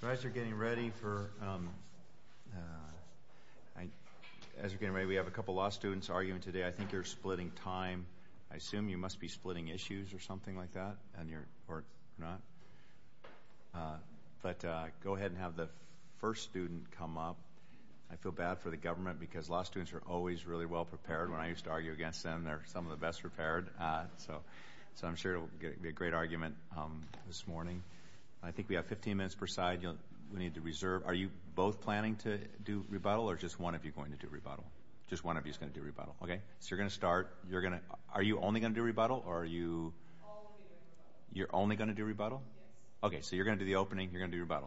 So as you're getting ready for, as you're getting ready, we have a couple of law students arguing today. I think you're splitting time. I assume you must be splitting issues or something like that, and you're, or not? But go ahead and have the first student come up. I feel bad for the government because law students are always really well prepared. When I used to argue against them, they're some of the best prepared, so I'm sure it will be a great argument this morning. I think we have 15 minutes per side. We need to reserve. Are you both planning to do rebuttal, or just one of you going to do rebuttal? Just one of you is going to do rebuttal. Okay? So you're going to start. You're going to, are you only going to do rebuttal, or are you, you're only going to do rebuttal? Yes. Okay, so you're going to do the opening.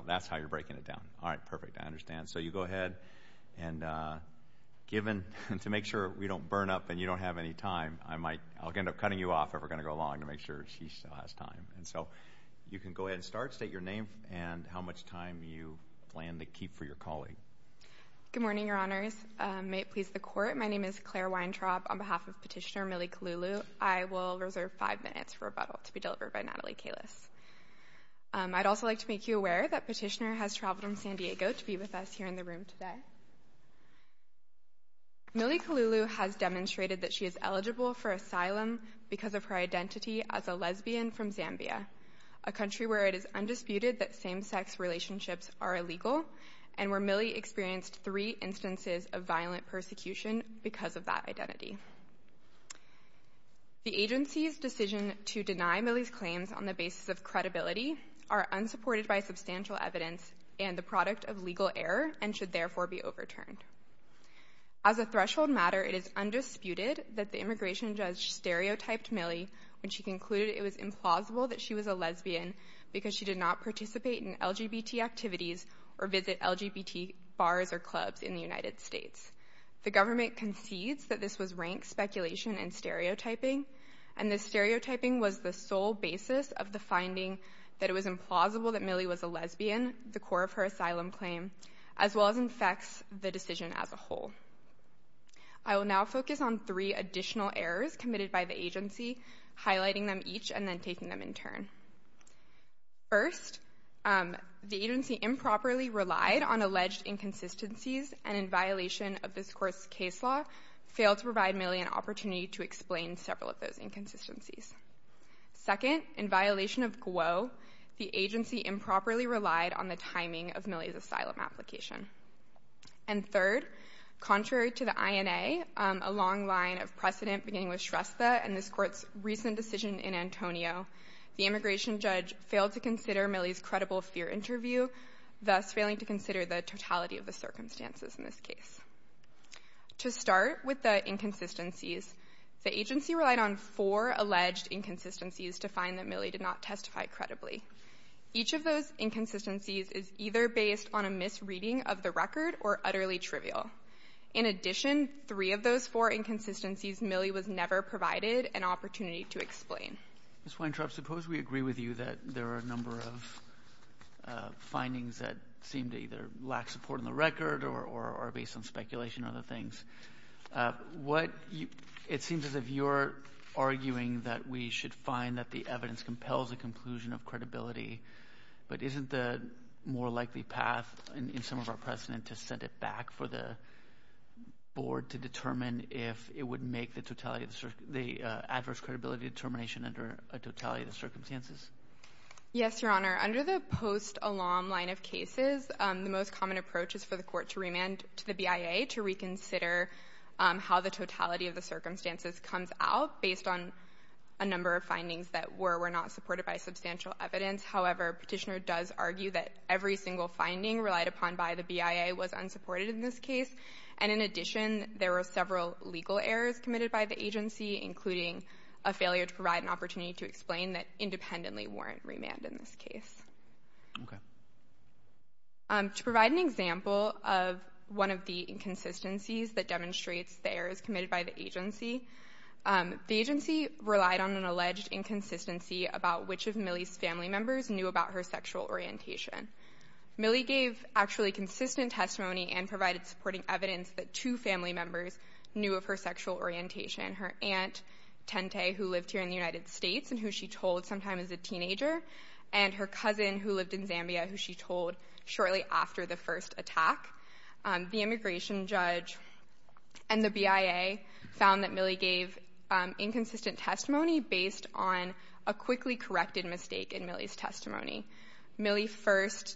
That's how you're breaking it down. All right, perfect. I understand. And so you go ahead, and given, to make sure we don't burn up and you don't have any time, I might, I'll end up cutting you off if we're going to go long to make sure she still has time. And so you can go ahead and start. State your name and how much time you plan to keep for your colleague. Good morning, Your Honors. May it please the Court, my name is Claire Weintraub on behalf of Petitioner Millie Kalulu. I will reserve five minutes for rebuttal to be delivered by Natalie Kalus. I'd also like to make you aware that Petitioner has traveled from San Diego to be with us here in the room today. Millie Kalulu has demonstrated that she is eligible for asylum because of her identity as a lesbian from Zambia, a country where it is undisputed that same-sex relationships are illegal, and where Millie experienced three instances of violent persecution because of that identity. The agency's decision to deny Millie's claims on the basis of credibility are unsupported by substantial evidence and the product of legal error and should therefore be overturned. As a threshold matter, it is undisputed that the immigration judge stereotyped Millie when she concluded it was implausible that she was a lesbian because she did not participate in LGBT activities or visit LGBT bars or clubs in the United States. The government concedes that this was rank speculation and stereotyping, and this stereotyping was the sole basis of the finding that it was implausible that Millie was a lesbian, the core of her asylum claim, as well as infects the decision as a whole. I will now focus on three additional errors committed by the agency, highlighting them each and then taking them in turn. First, the agency improperly relied on alleged inconsistencies and in violation of this court's Second, in violation of GWO, the agency improperly relied on the timing of Millie's asylum application. And third, contrary to the INA, a long line of precedent beginning with Shrestha and this court's recent decision in Antonio, the immigration judge failed to consider Millie's credible fear interview, thus failing to consider the totality of the circumstances in this case. To start with the inconsistencies, the agency relied on four alleged inconsistencies to find that Millie did not testify credibly. Each of those inconsistencies is either based on a misreading of the record or utterly trivial. In addition, three of those four inconsistencies, Millie was never provided an opportunity to explain. Ms. Weintraub, suppose we agree with you that there are a number of findings that seem to either lack support in the record or are based on speculation or other things. It seems as if you're arguing that we should find that the evidence compels a conclusion of credibility. But isn't the more likely path in some of our precedent to send it back for the board to determine if it would make the adverse credibility determination under a totality of the circumstances? Yes, Your Honor. Under the post-alum line of cases, the most common approach is for the court to remand to the BIA to reconsider how the totality of the circumstances comes out based on a number of findings that were or were not supported by substantial evidence. However, Petitioner does argue that every single finding relied upon by the BIA was unsupported in this case. And in addition, there were several legal errors committed by the agency, including a failure to provide an opportunity to explain that independently weren't remanded in this case. Okay. To provide an example of one of the inconsistencies that demonstrates the errors committed by the agency, the agency relied on an alleged inconsistency about which of Millie's family members knew about her sexual orientation. Millie gave actually consistent testimony and provided supporting evidence that two family members knew of her sexual orientation. Her aunt, Tente, who lived here in the United States and who she told sometime as a teenager, and her cousin who lived in Zambia, who she told shortly after the first attack. The immigration judge and the BIA found that Millie gave inconsistent testimony based on a quickly corrected mistake in Millie's testimony. Millie was first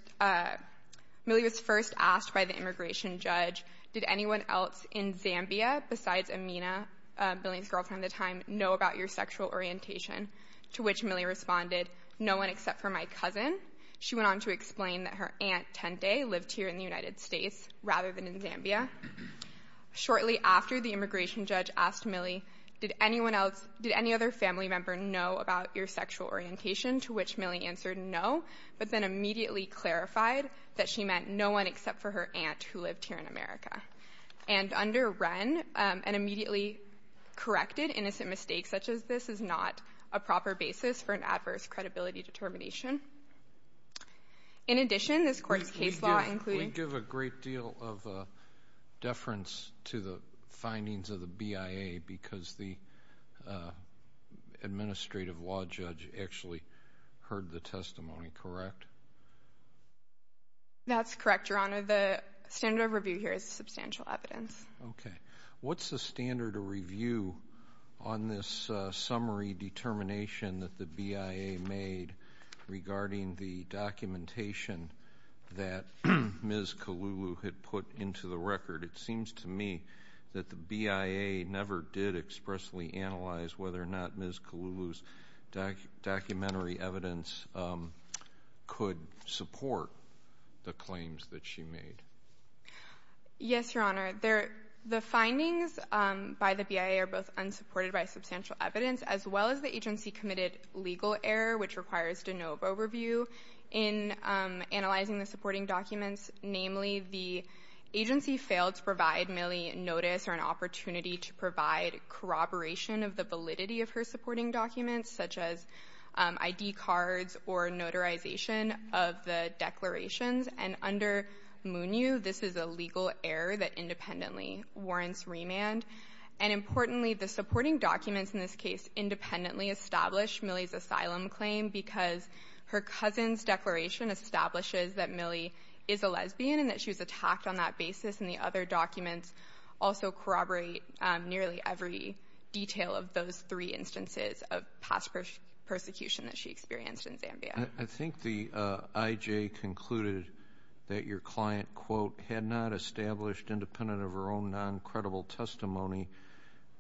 asked by the immigration judge, did anyone else in Zambia besides Amina Millie's girlfriend at the time, know about your sexual orientation? To which Millie responded, no one except for my cousin. She went on to explain that her aunt, Tente, lived here in the United States rather than in Zambia. Shortly after the immigration judge asked Millie, did anyone else, did any other family member know about your sexual orientation? To which Millie answered no, but then immediately clarified that she meant no one except for her aunt who lived here in America. And under Wren, an immediately corrected innocent mistake such as this is not a proper basis for an adverse credibility determination. In addition, this court's case law including- We give a great deal of deference to the findings of the BIA because the administrative law judge actually heard the testimony, correct? That's correct, Your Honor. The standard of review here is substantial evidence. Okay. What's the standard of review on this summary determination that the BIA made regarding the documentation that Ms. Kalulu had put into the record? It seems to me that the BIA never did expressly analyze whether or not Ms. Kalulu's documentary evidence could support the claims that she made. Yes, Your Honor. The findings by the BIA are both unsupported by substantial evidence as well as the agency committed legal error which requires de novo review in analyzing the supporting documents. Namely, the agency failed to provide Millie notice or an opportunity to provide corroboration of the validity of her supporting documents such as ID cards or notarization of the declarations. Under Munyu, this is a legal error that independently warrants remand. Importantly, the supporting documents in this case independently established Millie's asylum claim because her cousin's declaration establishes that Millie is a lesbian and that she was of those three instances of past persecution that she experienced in Zambia. I think the IJ concluded that your client, quote, had not established independent of her own non-credible testimony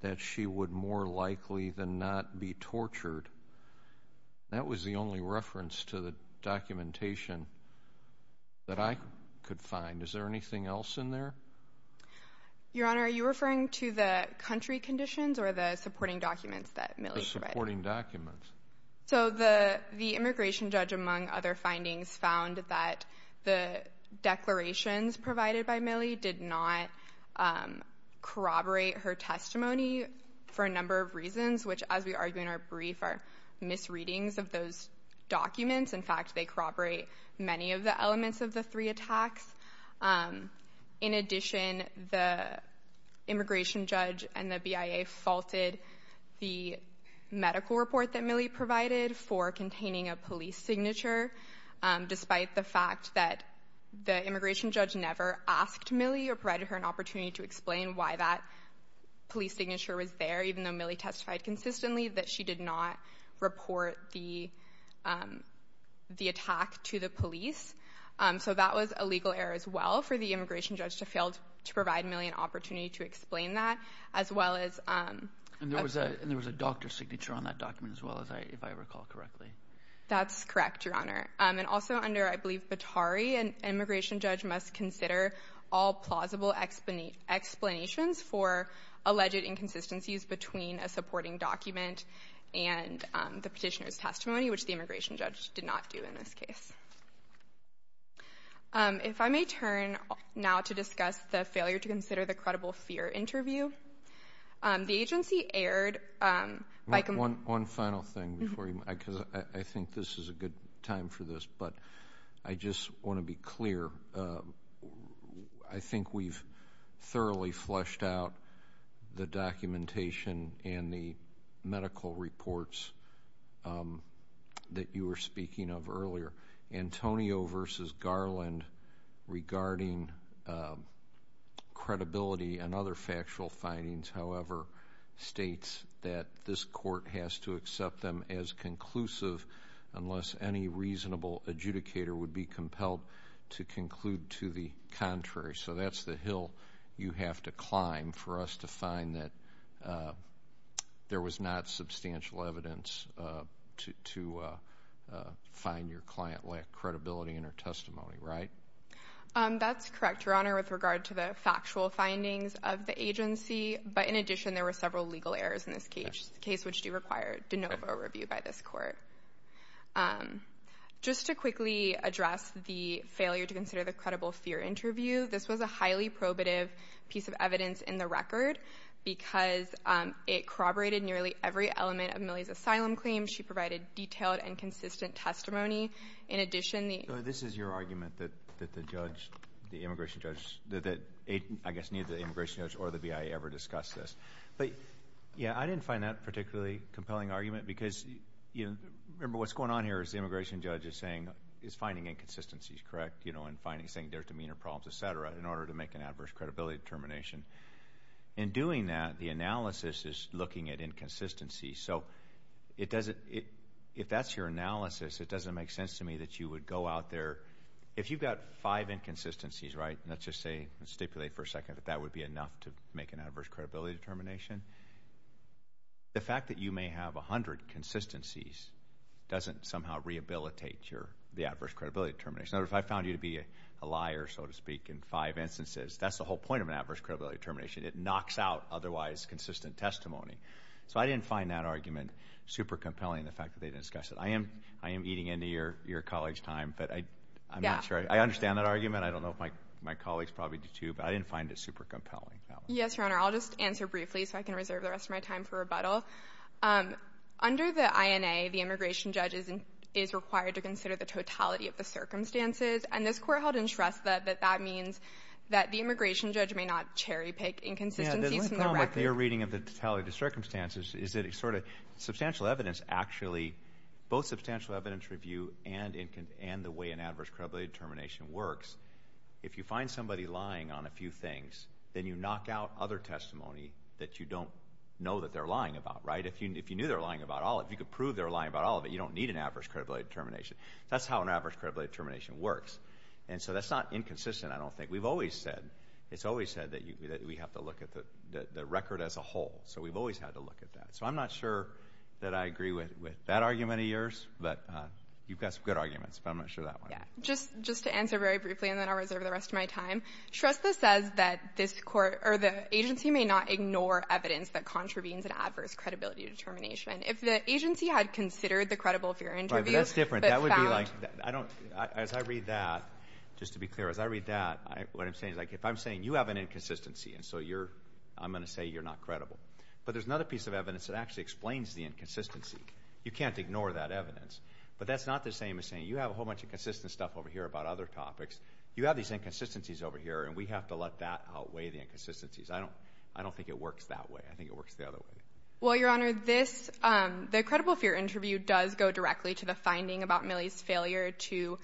that she would more likely than not be tortured. That was the only reference to the documentation that I could find. Is there anything else in there? Your Honor, are you referring to the country conditions or the supporting documents that Millie provided? The supporting documents. So, the immigration judge among other findings found that the declarations provided by Millie did not corroborate her testimony for a number of reasons which as we argue in our brief are misreadings of those documents. In fact, they corroborate many of the elements of the three attacks. In addition, the immigration judge and the BIA faulted the medical report that Millie provided for containing a police signature despite the fact that the immigration judge never asked Millie or provided her an opportunity to explain why that police signature was there even though Millie testified consistently that she did not report the attack to the police. So, that was a legal error as well for the immigration judge to fail to provide Millie an opportunity to explain that as well as... And there was a doctor's signature on that document as well if I recall correctly. That's correct, Your Honor. And also under, I believe, Batari, an immigration judge must consider all plausible explanations for alleged inconsistencies between a supporting document and the petitioner's testimony which the immigration judge did not do in this case. If I may turn now to discuss the failure to consider the credible fear interview. The agency aired... One final thing before you, because I think this is a good time for this, but I just want to be clear. I think we've thoroughly fleshed out the documentation and the medical reports that you were speaking of earlier. Antonio v. Garland regarding credibility and other factual findings, however, states that this court has to accept them as conclusive unless any reasonable adjudicator would be included to the contrary. So that's the hill you have to climb for us to find that there was not substantial evidence to find your client lacked credibility in her testimony, right? That's correct, Your Honor, with regard to the factual findings of the agency, but in addition there were several legal errors in this case, which do require de novo review by this court. Just to quickly address the failure to consider the credible fear interview, this was a highly probative piece of evidence in the record because it corroborated nearly every element of Millie's asylum claim. She provided detailed and consistent testimony. In addition, the... So this is your argument that the judge, the immigration judge, that I guess neither the immigration judge or the BIA ever discussed this, but yeah, I didn't find that particularly a compelling argument because, you know, remember what's going on here is the immigration judge is saying, is finding inconsistencies correct, you know, and saying there's demeanor problems, et cetera, in order to make an adverse credibility determination. In doing that, the analysis is looking at inconsistencies. So it doesn't... If that's your analysis, it doesn't make sense to me that you would go out there... If you've got five inconsistencies, right, let's just say, let's stipulate for a second that that would be enough to make an adverse credibility determination. The fact that you may have a hundred consistencies doesn't somehow rehabilitate your... The adverse credibility determination. Now, if I found you to be a liar, so to speak, in five instances, that's the whole point of an adverse credibility determination. It knocks out otherwise consistent testimony. So I didn't find that argument super compelling, the fact that they didn't discuss it. I am eating into your colleagues' time, but I'm not sure. I understand that argument. I don't know if my colleagues probably do, too, but I didn't find it super compelling. Yes, Your Honor. I'll just answer briefly so I can reserve the rest of my time for rebuttal. Under the INA, the immigration judge is required to consider the totality of the circumstances, and this Court held in trust that that means that the immigration judge may not cherry-pick inconsistencies from the record. Yeah, the problem with your reading of the totality of the circumstances is that it's sort of substantial evidence, actually, both substantial evidence review and the way an adverse credibility determination works. If you find somebody lying on a few things, then you knock out other testimony that you don't know that they're lying about, right? If you knew they're lying about all of it, if you could prove they're lying about all of it, you don't need an adverse credibility determination. That's how an adverse credibility determination works. And so that's not inconsistent, I don't think. We've always said, it's always said that we have to look at the record as a whole. So we've always had to look at that. So I'm not sure that I agree with that argument of yours, but you've got some good arguments, but I'm not sure that one. Just to answer very briefly, and then I'll reserve the rest of my time, Shrestha says that this court, or the agency, may not ignore evidence that contravenes an adverse credibility determination. If the agency had considered the credible fear interview, but found... Right, but that's different. That would be like, I don't, as I read that, just to be clear, as I read that, what I'm saying is like, if I'm saying you have an inconsistency, and so you're, I'm going to say you're not credible. But there's another piece of evidence that actually explains the inconsistency. You can't ignore that evidence. But that's not the same as saying, you have a whole bunch of consistent stuff over here about other topics, you have these inconsistencies over here, and we have to let that outweigh the inconsistencies. I don't, I don't think it works that way. I think it works the other way. Well, Your Honor, this, the credible fear interview does go directly to the finding about Millie's failure to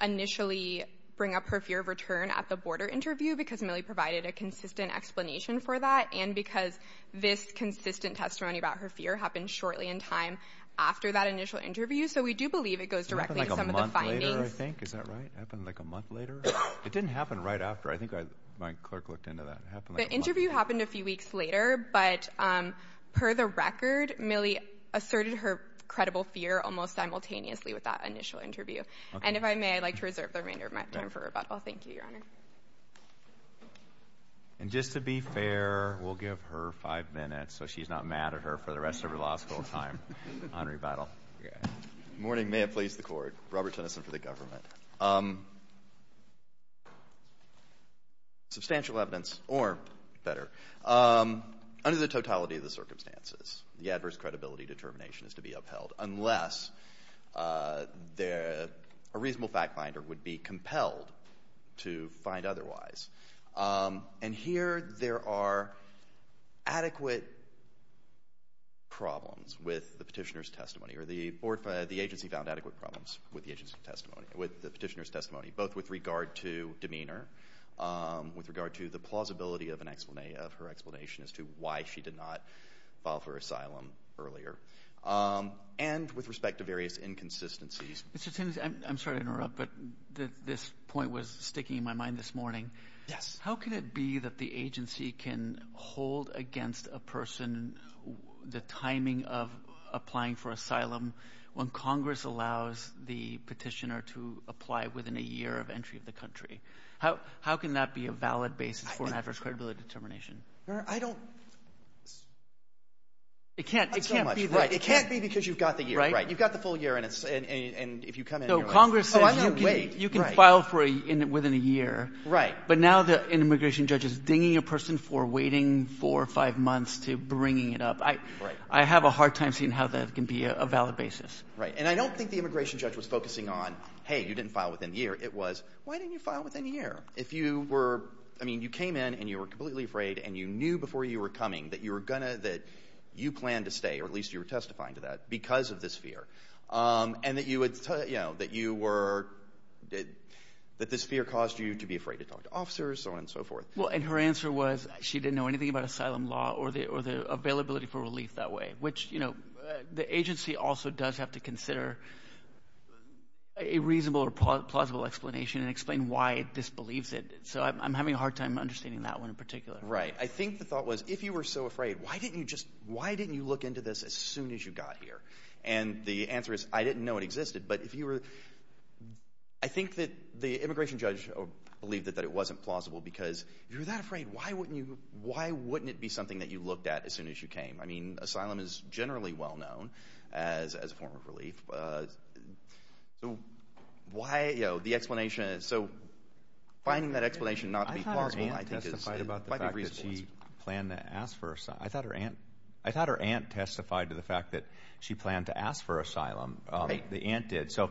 initially bring up her fear of return at the border interview because Millie provided a consistent explanation for that, and because this consistent testimony about her fear happened shortly in time after that initial interview, so we do believe it goes directly to some of the findings. It happened like a month later, I think. Is that right? It happened like a month later? It didn't happen right after. I think I, my clerk looked into that. It happened like a month later. The interview happened a few weeks later, but per the record, Millie asserted her credible fear almost simultaneously with that initial interview. And if I may, I'd like to reserve the remainder of my time for rebuttal. Thank you, Your Honor. Thank you. And just to be fair, we'll give her five minutes so she's not mad at her for the rest of her law school time on rebuttal. Good morning. May it please the Court. Robert Tennyson for the government. Substantial evidence, or better, under the totality of the circumstances, the adverse credibility determination is to be upheld unless a reasonable fact finder would be compelled to find otherwise. And here there are adequate problems with the Petitioner's testimony, or the agency found adequate problems with the Petitioner's testimony, both with regard to demeanor, with regard to the plausibility of her explanation as to why she did not file for asylum earlier, and with respect to various inconsistencies. Mr. Tennyson, I'm sorry to interrupt, but this point was sticking in my mind this morning. How could it be that the agency can hold against a person the timing of applying for asylum when Congress allows the Petitioner to apply within a year of entry of the country? How can that be a valid basis for an adverse credibility determination? I don't... It can't be because you've got the year, right? So Congress says you can file within a year, but now the immigration judge is dinging a person for waiting four or five months to bringing it up. I have a hard time seeing how that can be a valid basis. Right. And I don't think the immigration judge was focusing on, hey, you didn't file within a year. It was, why didn't you file within a year? If you were... I mean, you came in and you were completely afraid, and you knew before you were coming that you planned to stay, or at least you were testifying to that, because of this fear, and that this fear caused you to be afraid to talk to officers, so on and so forth. Well, and her answer was she didn't know anything about asylum law or the availability for relief that way, which the agency also does have to consider a reasonable or plausible explanation and explain why it disbelieves it. So I'm having a hard time understanding that one in particular. Right. I think the thought was, if you were so afraid, why didn't you look into this as soon as you got here? And the answer is, I didn't know it existed, but if you were... I think that the immigration judge believed that it wasn't plausible, because if you were that afraid, why wouldn't it be something that you looked at as soon as you came? I mean, asylum is generally well-known as a form of relief, so why, you know, the explanation... So finding that explanation not to be plausible, I think, might be reasonable. I thought her aunt testified about the fact that she planned to ask for asylum. I thought her aunt testified to the fact that she planned to ask for asylum. The aunt did. So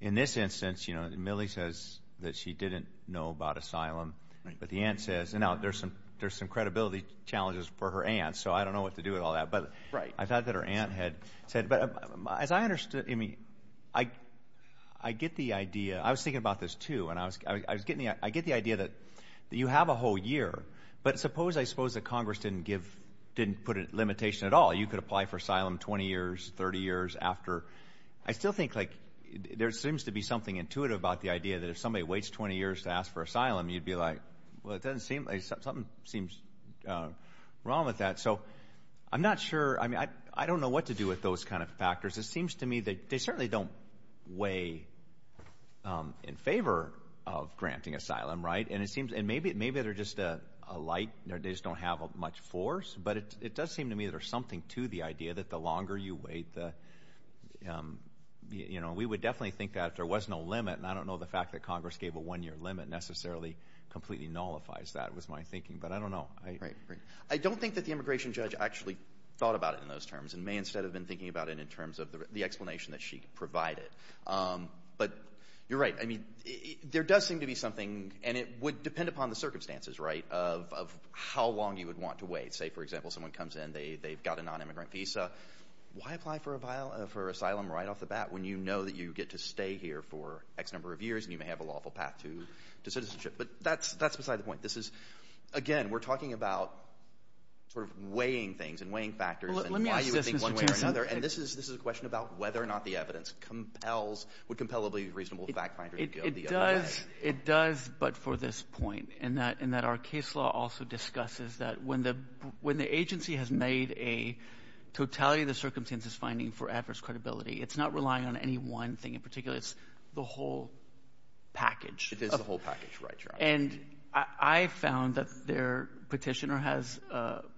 in this instance, you know, Millie says that she didn't know about asylum, but the aunt says... Now, there's some credibility challenges for her aunt, so I don't know what to do with all that. Right. But I thought that her aunt had said... But as I understood... I mean, I get the idea. I was thinking about this, too, and I was getting... I get the idea that you have a whole year, but suppose, I suppose, that Congress didn't give... didn't put a limitation at all. You could apply for asylum 20 years, 30 years after. I still think, like, there seems to be something intuitive about the idea that if somebody waits 20 years to ask for asylum, you'd be like, well, it doesn't seem... Something seems wrong with that. So I'm not sure... I mean, I don't know what to do with those kind of factors. It seems to me that they certainly don't weigh in favor of granting asylum, right? And it seems... And maybe they're just a light... They just don't have much force, but it does seem to me that there's something to the idea that the longer you wait, the... We would definitely think that if there was no limit, and I don't know the fact that Congress gave a one-year limit necessarily completely nullifies that was my thinking, but I don't know. Right, right. I don't think that the immigration judge actually thought about it in those terms and may instead have been thinking about it in terms of the explanation that she provided. But you're right. I mean, there does seem to be something, and it would depend upon the circumstances, right, of how long you would want to wait. Say, for example, someone comes in, they've got a non-immigrant visa. Why apply for asylum right off the bat when you know that you get to stay here for X number of years and you may have a lawful path to citizenship? But that's beside the point. This is... Again, we're talking about sort of weighing things and weighing factors and why you would think one way or another, and this is a question about whether or not the It does, but for this point, in that our case law also discusses that when the agency has made a totality of the circumstances finding for adverse credibility, it's not relying on any one thing in particular. It's the whole package. It is the whole package, right, Your Honor. And I found that their petitioner has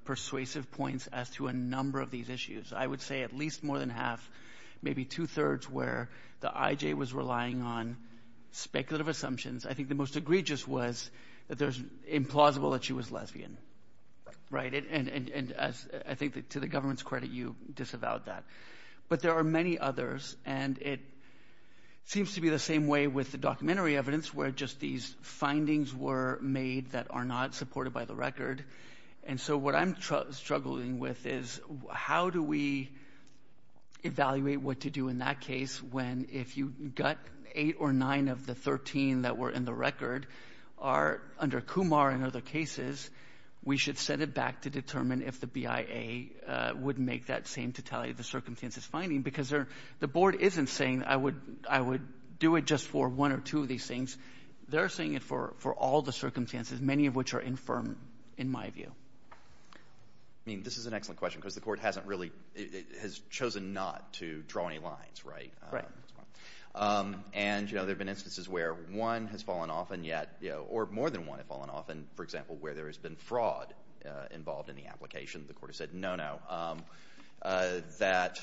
persuasive points as to a number of these issues. I would say at least more than half, maybe two-thirds, where the IJ was relying on speculative assumptions. I think the most egregious was that it was implausible that she was lesbian, right? And I think to the government's credit, you disavowed that. But there are many others, and it seems to be the same way with the documentary evidence where just these findings were made that are not supported by the record. And so what I'm struggling with is how do we evaluate what to do in that case when if you got eight or nine of the 13 that were in the record are under Kumar and other cases, we should set it back to determine if the BIA would make that same totality of the circumstances finding because the board isn't saying I would do it just for one or two of these things. They're saying it for all the circumstances, many of which are infirm in my view. I mean, this is an excellent question because the court hasn't really, it has chosen not to draw any lines, right? And you know, there have been instances where one has fallen off and yet, you know, or more than one have fallen off. And for example, where there has been fraud involved in the application, the court has said no, no, that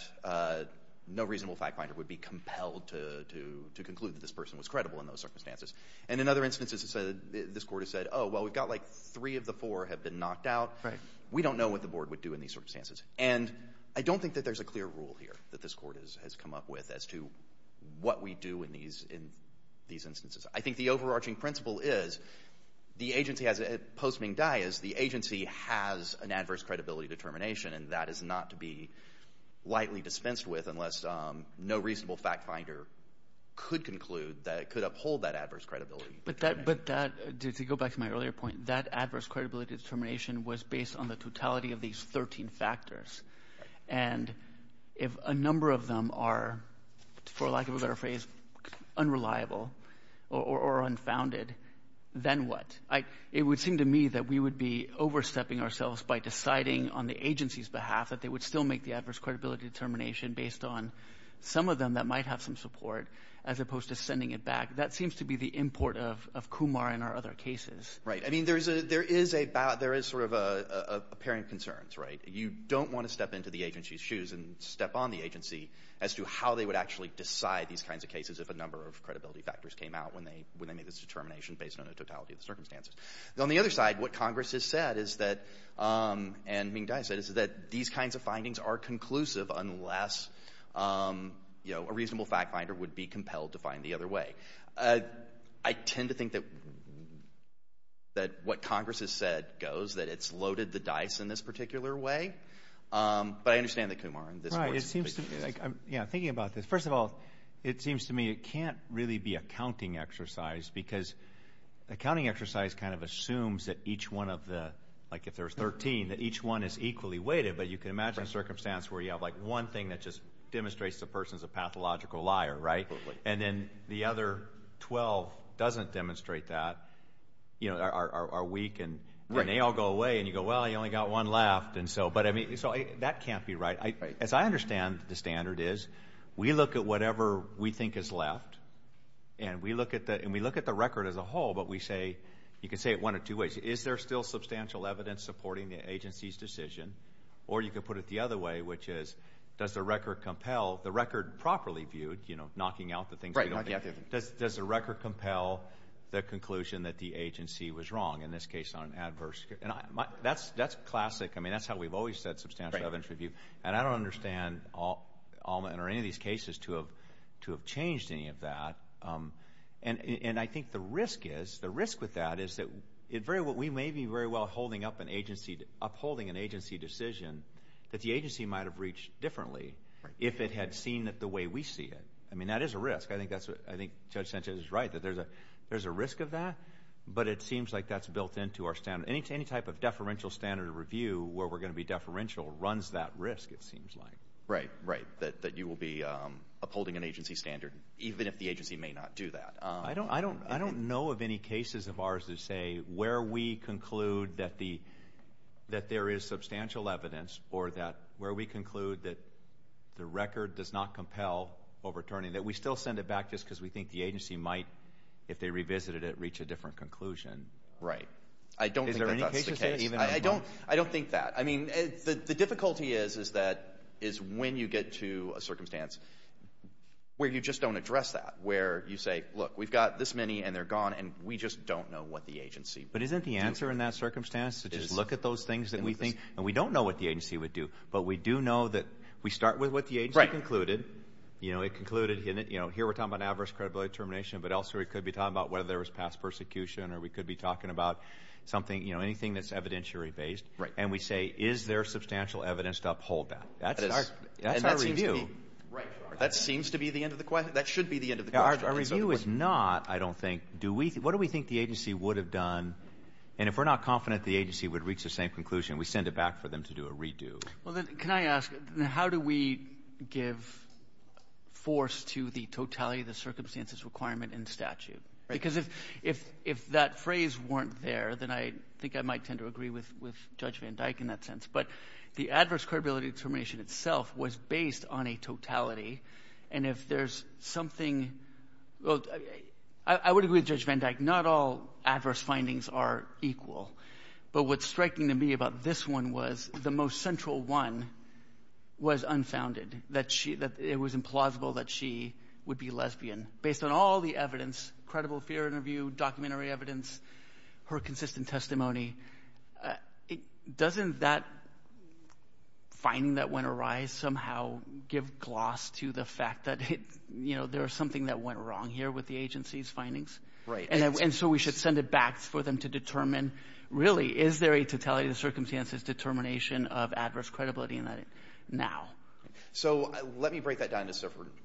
no reasonable fact finder would be compelled to conclude that this person was credible in those circumstances. And in other instances, this court has said, oh, well, we've got like three of the four have been knocked out. We don't know what the board would do in these circumstances. And I don't think that there's a clear rule here that this court has come up with as to what we do in these instances. I think the overarching principle is the agency has, post Ming Dai, is the agency has an adverse credibility determination and that is not to be lightly dispensed with unless no reasonable fact finder could conclude that it could uphold that adverse credibility. But that, to go back to my earlier point, that adverse credibility determination was based on the totality of these 13 factors. And if a number of them are, for lack of a better phrase, unreliable or unfounded, then what? It would seem to me that we would be overstepping ourselves by deciding on the agency's behalf that they would still make the adverse credibility determination based on some of them that might have some support as opposed to sending it back. That seems to be the import of Kumar in our other cases. Right. I mean, there is a, there is a, there is sort of a pairing of concerns, right? You don't want to step into the agency's shoes and step on the agency as to how they would actually decide these kinds of cases if a number of credibility factors came out when they, when they made this determination based on the totality of the circumstances. On the other side, what Congress has said is that, and Ming Dai said, is that these kinds of findings are conclusive unless, you know, a reasonable fact finder would be compelled to find the other way. I tend to think that, that what Congress has said goes, that it's loaded the dice in this particular way. But I understand that Kumar in this case is. Right. It seems to me, yeah, thinking about this. First of all, it seems to me it can't really be a counting exercise because a counting exercise kind of assumes that each one of the, like if there's 13, that each one is equally weighted, but you can imagine a circumstance where you have like one thing that just demonstrates the person's a pathological liar, right? And then the other 12 doesn't demonstrate that, you know, are weak and they all go away and you go, well, you only got one left. And so, but I mean, so that can't be right. As I understand the standard is, we look at whatever we think is left and we look at the, and we look at the record as a whole, but we say, you can say it one of two ways. Is there still substantial evidence supporting the agency's decision? Or you could put it the other way, which is, does the record compel, the record properly viewed, you know, knocking out the things we don't think. Right. Does the record compel the conclusion that the agency was wrong, in this case on an adverse case? And that's classic. I mean, that's how we've always said substantial evidence review. And I don't understand Alma or any of these cases to have changed any of that. And I think the risk is, the risk with that is that it very well, we may be very well holding up an agency, upholding an agency decision that the agency might have reached differently if it had seen it the way we see it. I mean, that is a risk. I think that's what, I think Judge Sanchez is right, that there's a, there's a risk of that, but it seems like that's built into our standard. Any type of deferential standard review where we're going to be deferential runs that risk, it seems like. Right, right. I don't expect that you will be upholding an agency standard, even if the agency may not do that. I don't, I don't, I don't know of any cases of ours that say where we conclude that the, that there is substantial evidence, or that, where we conclude that the record does not compel overturning, that we still send it back just because we think the agency might, if they revisited it, reach a different conclusion. I don't think that's the case. Is there any case to say, even on one? I don't, I don't think that. I mean, the difficulty is, is that, is when you get to a circumstance where you just don't address that, where you say, look, we've got this many, and they're gone, and we just don't know what the agency. But isn't the answer in that circumstance to just look at those things that we think, and we don't know what the agency would do, but we do know that we start with what the agency concluded. Right. You know, it concluded, you know, here we're talking about adverse credibility termination, but elsewhere we could be talking about whether there was past persecution, or we could be talking about something, you know, anything that's evidentiary based. Right. And we say, is there substantial evidence to uphold that? That's our review. And that seems to be, right, that seems to be the end of the question. That should be the end of the question. Our review is not, I don't think, do we, what do we think the agency would have done, and if we're not confident the agency would reach the same conclusion, we send it back for them to do a redo. Well, then can I ask, how do we give force to the totality of the circumstances requirement in statute? Right. Because if that phrase weren't there, then I think I might tend to agree with Judge Van Dyke in that sense, but the adverse credibility termination itself was based on a totality, and if there's something, well, I would agree with Judge Van Dyke. Not all adverse findings are equal, but what's striking to me about this one was the most central one was unfounded, that she, that it was implausible that she would be a lesbian based on all the evidence, credible fear interview, documentary evidence, her consistent testimony. Doesn't that finding that went awry somehow give gloss to the fact that it, you know, there was something that went wrong here with the agency's findings? Right. And so we should send it back for them to determine, really, is there a totality of the circumstances determination of adverse credibility in that now? So let me break that down into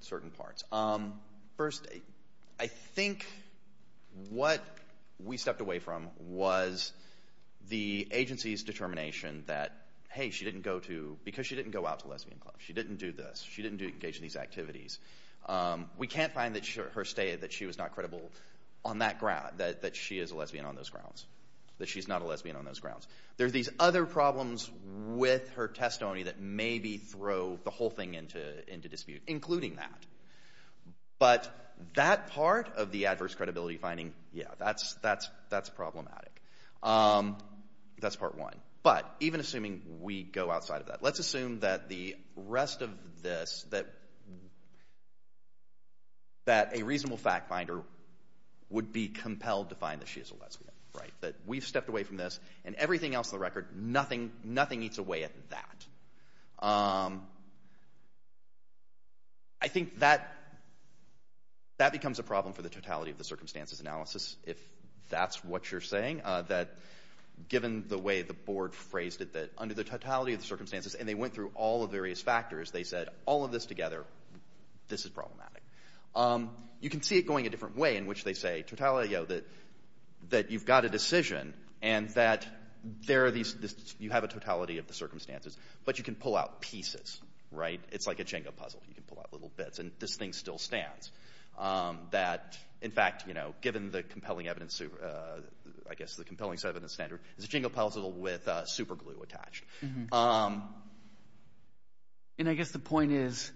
certain parts. First, I think what we stepped away from was the agency's determination that, hey, she didn't go to, because she didn't go out to lesbian clubs, she didn't do this, she didn't engage in these activities. We can't find that her state that she was not credible on that ground, that she is a lesbian on those grounds, that she's not a lesbian on those grounds. There's these other problems with her testimony that maybe throw the whole thing into dispute, including that. But that part of the adverse credibility finding, yeah, that's problematic. That's part one. But even assuming we go outside of that, let's assume that the rest of this, that a reasonable fact finder would be compelled to find that she is a lesbian, right? That we've stepped away from this, and everything else on the record, nothing eats away at that. I think that becomes a problem for the totality of the circumstances analysis, if that's what you're saying, that given the way the board phrased it, that under the totality of the circumstances, and they went through all the various factors, they said, all of this together, this is problematic. You can see it going a different way, in which they say, totality, that you've got a decision and that you have a totality of the circumstances, but you can pull out pieces, right? Like a Jenga puzzle, you can pull out little bits, and this thing still stands. That in fact, you know, given the compelling evidence, I guess, the compelling evidence standard, it's a Jenga puzzle with super glue attached. And I guess the point is,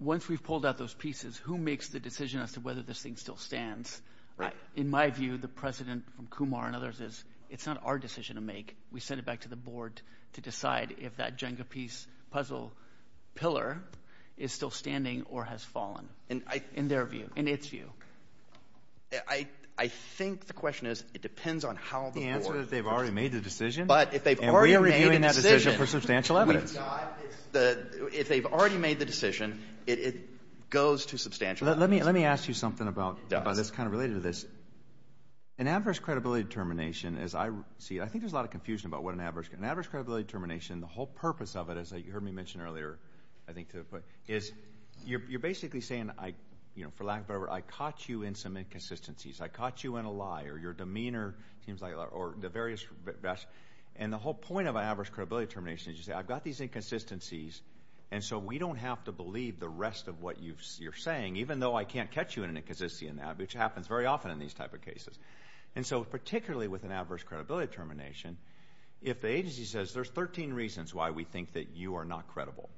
once we've pulled out those pieces, who makes the decision as to whether this thing still stands? In my view, the precedent from Kumar and others is, it's not our decision to make. We send it back to the board to decide if that Jenga piece puzzle pillar is still standing or has fallen, in their view, in its view. I think the question is, it depends on how the board... The answer is, they've already made the decision. But if they've already made the decision... And we are reviewing that decision for substantial evidence. If they've already made the decision, it goes to substantial evidence. Let me ask you something about this, kind of related to this. An adverse credibility determination, as I see it, I think there's a lot of confusion about what an adverse... An adverse credibility determination, the whole purpose of it, as you heard me mention earlier, I think to the point, is you're basically saying, for lack of whatever, I caught you in some inconsistencies. I caught you in a lie, or your demeanor seems like a lie, or the various... And the whole point of an adverse credibility determination is you say, I've got these inconsistencies, and so we don't have to believe the rest of what you're saying, even though I can't catch you in an inconsistency in that, which happens very often in these type of cases. And so, particularly with an adverse credibility determination, if the agency says, there's 13 reasons why we think that you are not credible,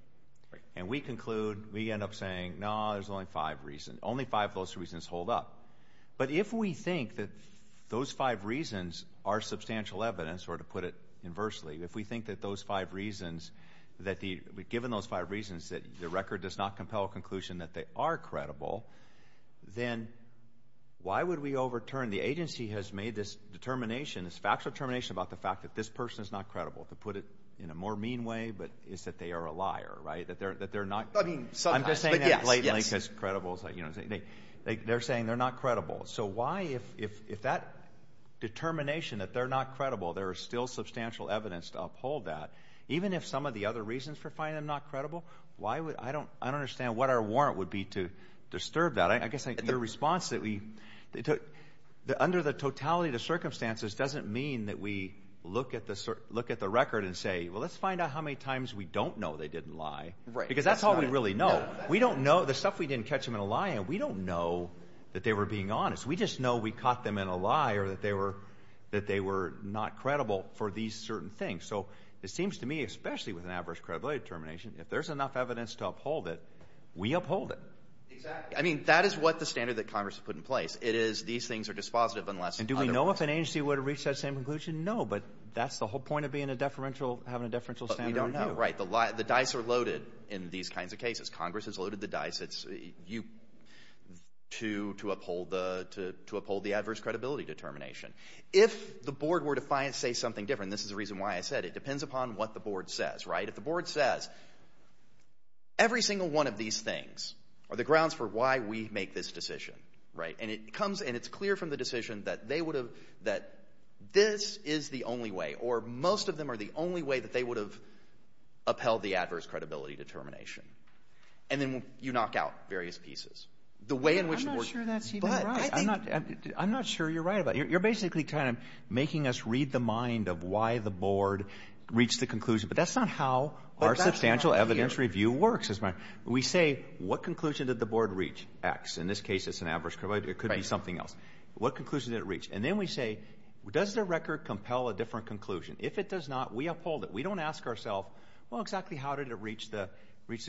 and we conclude, we end up saying, no, there's only five reasons. Only five of those reasons hold up. But if we think that those five reasons are substantial evidence, or to put it inversely, if we think that those five reasons, that given those five reasons, that the record does not compel a conclusion that they are credible, then why would we overturn the agency has made this determination, this factual determination about the fact that this person is not credible? To put it in a more mean way, but it's that they are a liar, right? That they're not... I mean, sometimes, but yes. I'm just saying that blatantly, because credible is like, you know what I'm saying? They're saying they're not credible. So why, if that determination that they're not credible, there is still substantial evidence to uphold that, even if some of the other reasons for finding them not credible, why would... I don't understand what our warrant would be to disturb that. I guess your response that we... Under the totality of the circumstances doesn't mean that we look at the record and say, well, let's find out how many times we don't know they didn't lie, because that's all we really know. We don't know the stuff we didn't catch them in a lie, and we don't know that they were being honest. We just know we caught them in a lie, or that they were not credible for these certain things. So it seems to me, especially with an adverse credibility determination, if there's enough evidence to uphold it, we uphold it. Exactly. I mean, that is what the standard that Congress has put in place. It is, these things are dispositive unless... And do we know if an agency would have reached that same conclusion? No, but that's the whole point of being a deferential, having a deferential standard review. But we don't know. Right. The dice are loaded in these kinds of cases. Congress has loaded the dice. It's you to uphold the adverse credibility determination. If the board were to say something different, and this is the reason why I said it, it depends upon what the board says, right? If the board says, every single one of these things are the grounds for why we make this decision, right? And it comes, and it's clear from the decision that they would have, that this is the only way, or most of them are the only way that they would have upheld the adverse credibility determination. And then you knock out various pieces. The way in which the board... I'm not sure that's even right. But I think... I'm not sure you're right about it. You're basically kind of making us read the mind of why the board reached the conclusion. But that's not how our substantial evidence review works. We say, what conclusion did the board reach, X. In this case, it's an adverse credibility. It could be something else. What conclusion did it reach? And then we say, does the record compel a different conclusion? If it does not, we uphold it. We don't ask ourself, well, exactly how did it reach the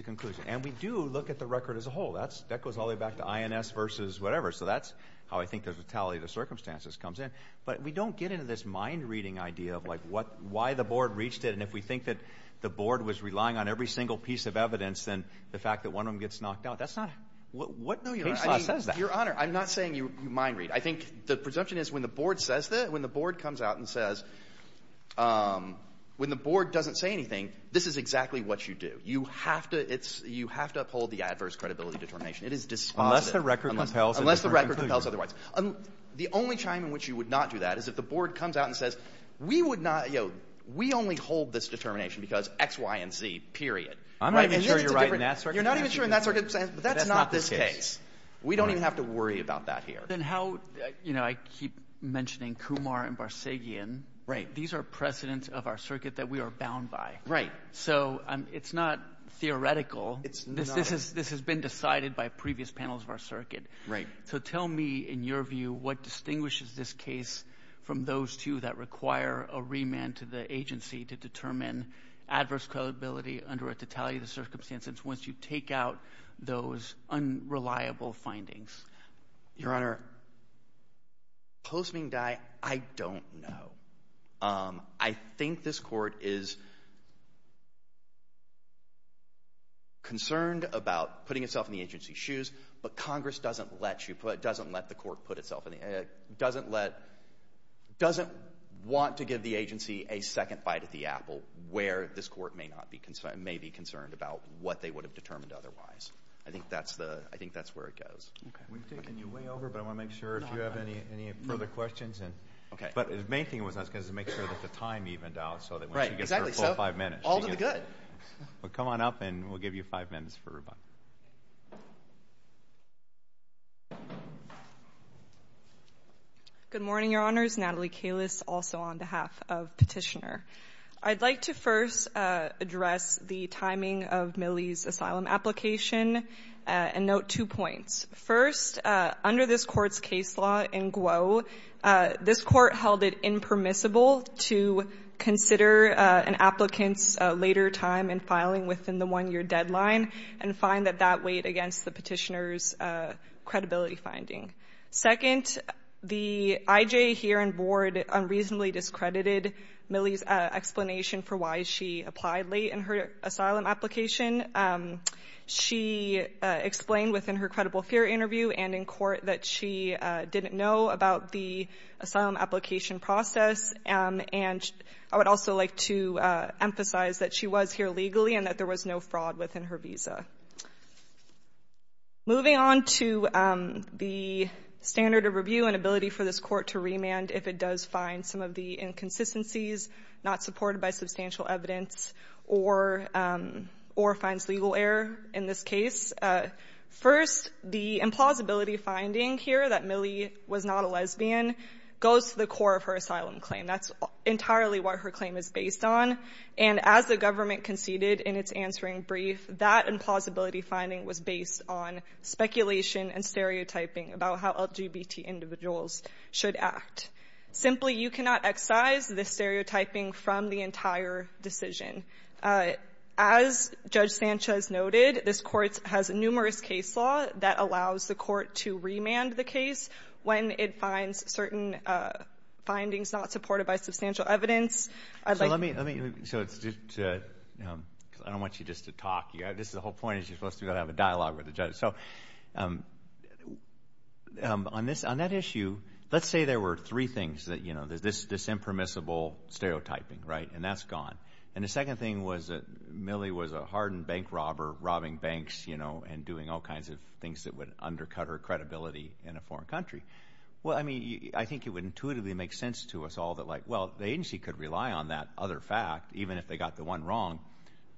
conclusion? And we do look at the record as a whole. That goes all the way back to INS versus whatever. So that's how I think the vitality of the circumstances comes in. But we don't get into this mind-reading idea of why the board reached it, and if we think that the board was relying on every single piece of evidence, then the fact that one of them gets knocked out. That's not... What... No, Your Honor. Case law says that. Your Honor, I'm not saying you mind-read. I think the presumption is when the board says that, when the board comes out and says... When the board doesn't say anything, this is exactly what you do. You have to uphold the adverse credibility determination. It is dispositive. Unless the record compels a different conclusion. Unless the record compels otherwise. The only time in which you would not do that is if the board comes out and says, we would uphold this determination because X, Y, and Z, period. I'm not even sure you're right in that circumstance. You're not even sure in that circumstance. But that's not this case. That's not this case. We don't even have to worry about that here. Then how... You know, I keep mentioning Kumar and Barsegian. Right. These are precedents of our circuit that we are bound by. Right. So it's not theoretical. It's not. This has been decided by previous panels of our circuit. Right. So tell me, in your view, what distinguishes this case from those two that require a remand to the agency to determine adverse credibility under a totality of the circumstances once you take out those unreliable findings? Your Honor, post Ming Dai, I don't know. I think this court is concerned about putting itself in the agency's shoes, but Congress doesn't let you put, doesn't let the court put itself in the, doesn't let, doesn't want to give the agency a second bite at the apple where this court may not be concerned, may be concerned about what they would have determined otherwise. I think that's the, I think that's where it goes. Okay. We've taken you way over, but I want to make sure if you have any further questions and... Okay. But the main thing was I was going to make sure that the time evened out so that when she gets her full five minutes... Right. Exactly. So all to the good. Well, come on up and we'll give you five minutes for rebuttal. Good morning, Your Honors. My name is Natalie Kalis, also on behalf of Petitioner. I'd like to first address the timing of Millie's asylum application and note two points. First, under this court's case law in Guo, this court held it impermissible to consider an applicant's later time in filing within the one-year deadline and find that that weighed against the Petitioner's credibility finding. Second, the IJ here and board unreasonably discredited Millie's explanation for why she applied late in her asylum application. She explained within her credible fear interview and in court that she didn't know about the asylum application process, and I would also like to emphasize that she was here legally Moving on to the standard of review and ability for this court to remand if it does find some of the inconsistencies not supported by substantial evidence or finds legal error in this case. First, the implausibility finding here that Millie was not a lesbian goes to the core of her asylum claim. That's entirely what her claim is based on, and as the government conceded in its answering brief, that implausibility finding was based on speculation and stereotyping about how LGBT individuals should act. Simply, you cannot excise the stereotyping from the entire decision. As Judge Sanchez noted, this court has numerous case law that allows the court to remand the case when it finds certain findings not supported by substantial evidence. I don't want you just to talk. The whole point is you're supposed to have a dialogue with the judge. So on that issue, let's say there were three things, this impermissible stereotyping, right? And that's gone. And the second thing was that Millie was a hardened bank robber, robbing banks and doing all kinds of things that would undercut her credibility in a foreign country. Well, I mean, I think it would intuitively make sense to us all that, well, the agency could rely on that other fact, even if they got the one wrong,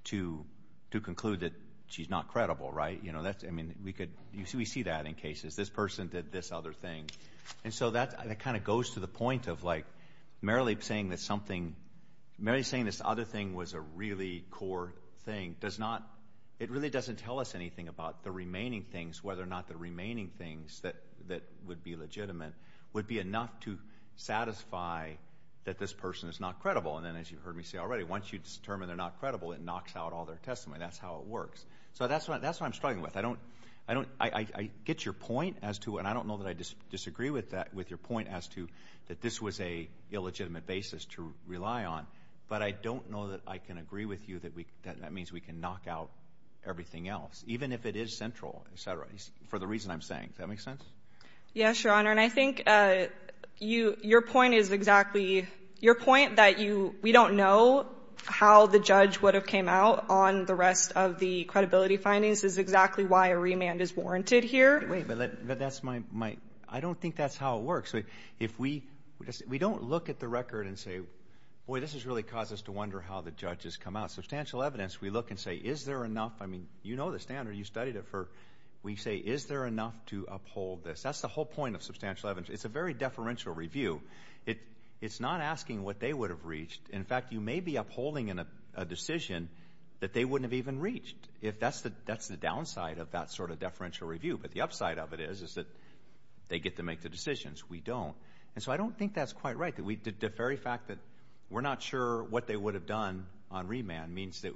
to conclude that she's not credible, right? I mean, we see that in cases. This person did this other thing. And so that kind of goes to the point of Merrilee saying this other thing was a really core thing. It really doesn't tell us anything about the remaining things, whether or not the remaining things that would be legitimate would be enough to satisfy that this person is not credible. And then as you've heard me say already, once you determine they're not credible, it knocks out all their testimony. That's how it works. So that's what I'm struggling with. I get your point as to, and I don't know that I disagree with your point as to that this was a illegitimate basis to rely on, but I don't know that I can agree with you that that means we can knock out everything else, even if it is central, et cetera. For the reason I'm saying. Does that make sense? Yes, Your Honor. And I think your point is exactly, your point that you, we don't know how the judge would have came out on the rest of the credibility findings is exactly why a remand is warranted here. Wait, but that's my, I don't think that's how it works. If we, we don't look at the record and say, boy, this has really caused us to wonder how the judge has come out. Substantial evidence, we look and say, is there enough? I mean, you know the standard. You studied it for, we say, is there enough to uphold this? That's the whole point of substantial evidence. It's a very deferential review. It's not asking what they would have reached. In fact, you may be upholding in a decision that they wouldn't have even reached. If that's the downside of that sort of deferential review, but the upside of it is, is that they get to make the decisions. We don't. And so I don't think that's quite right. That we, the very fact that we're not sure what they would have done on remand means that,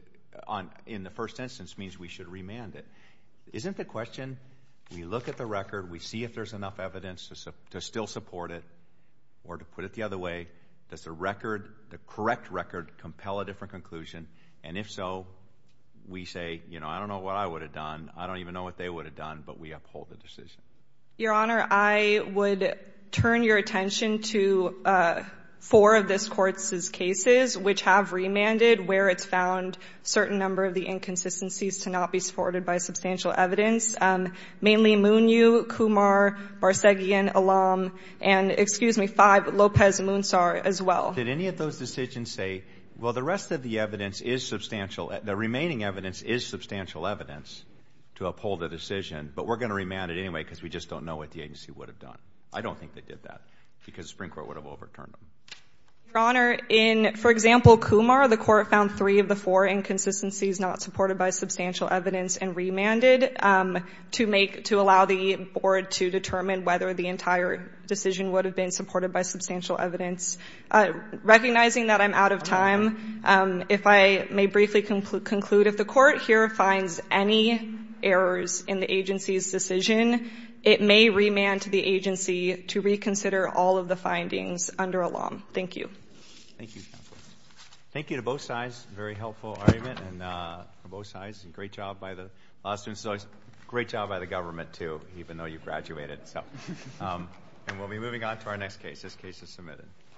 in the first instance, means we should remand it. Isn't the question, we look at the record, we see if there's enough evidence to still support it, or to put it the other way, does the record, the correct record, compel a different conclusion? And if so, we say, you know, I don't know what I would have done. I don't even know what they would have done, but we uphold the decision. Your Honor, I would turn your attention to four of this Court's cases which have remanded where it's found a certain number of the inconsistencies to not be supported by substantial evidence, mainly Munyu, Kumar, Barsegian, Alam, and, excuse me, 5, Lopez, Moonsaur as well. Did any of those decisions say, well, the rest of the evidence is substantial, the remaining evidence is substantial evidence to uphold the decision, but we're going to remand it anyway because we just don't know what the agency would have done? I don't think they did that, because the Supreme Court would have overturned them. Your Honor, in, for example, Kumar, the Court found three of the four inconsistencies not supported by substantial evidence and remanded to make, to allow the Board to determine whether the entire decision would have been supported by substantial evidence. Recognizing that I'm out of time, if I may briefly conclude, if the Court here finds any errors in the agency's decision, it may remand to the agency to reconsider all of the findings under Alam. Thank you. Thank you, counsel. Thank you to both sides. Very helpful argument from both sides. Great job by the law students. Great job by the government, too, even though you graduated, and we'll be moving on to our next case. This case is submitted.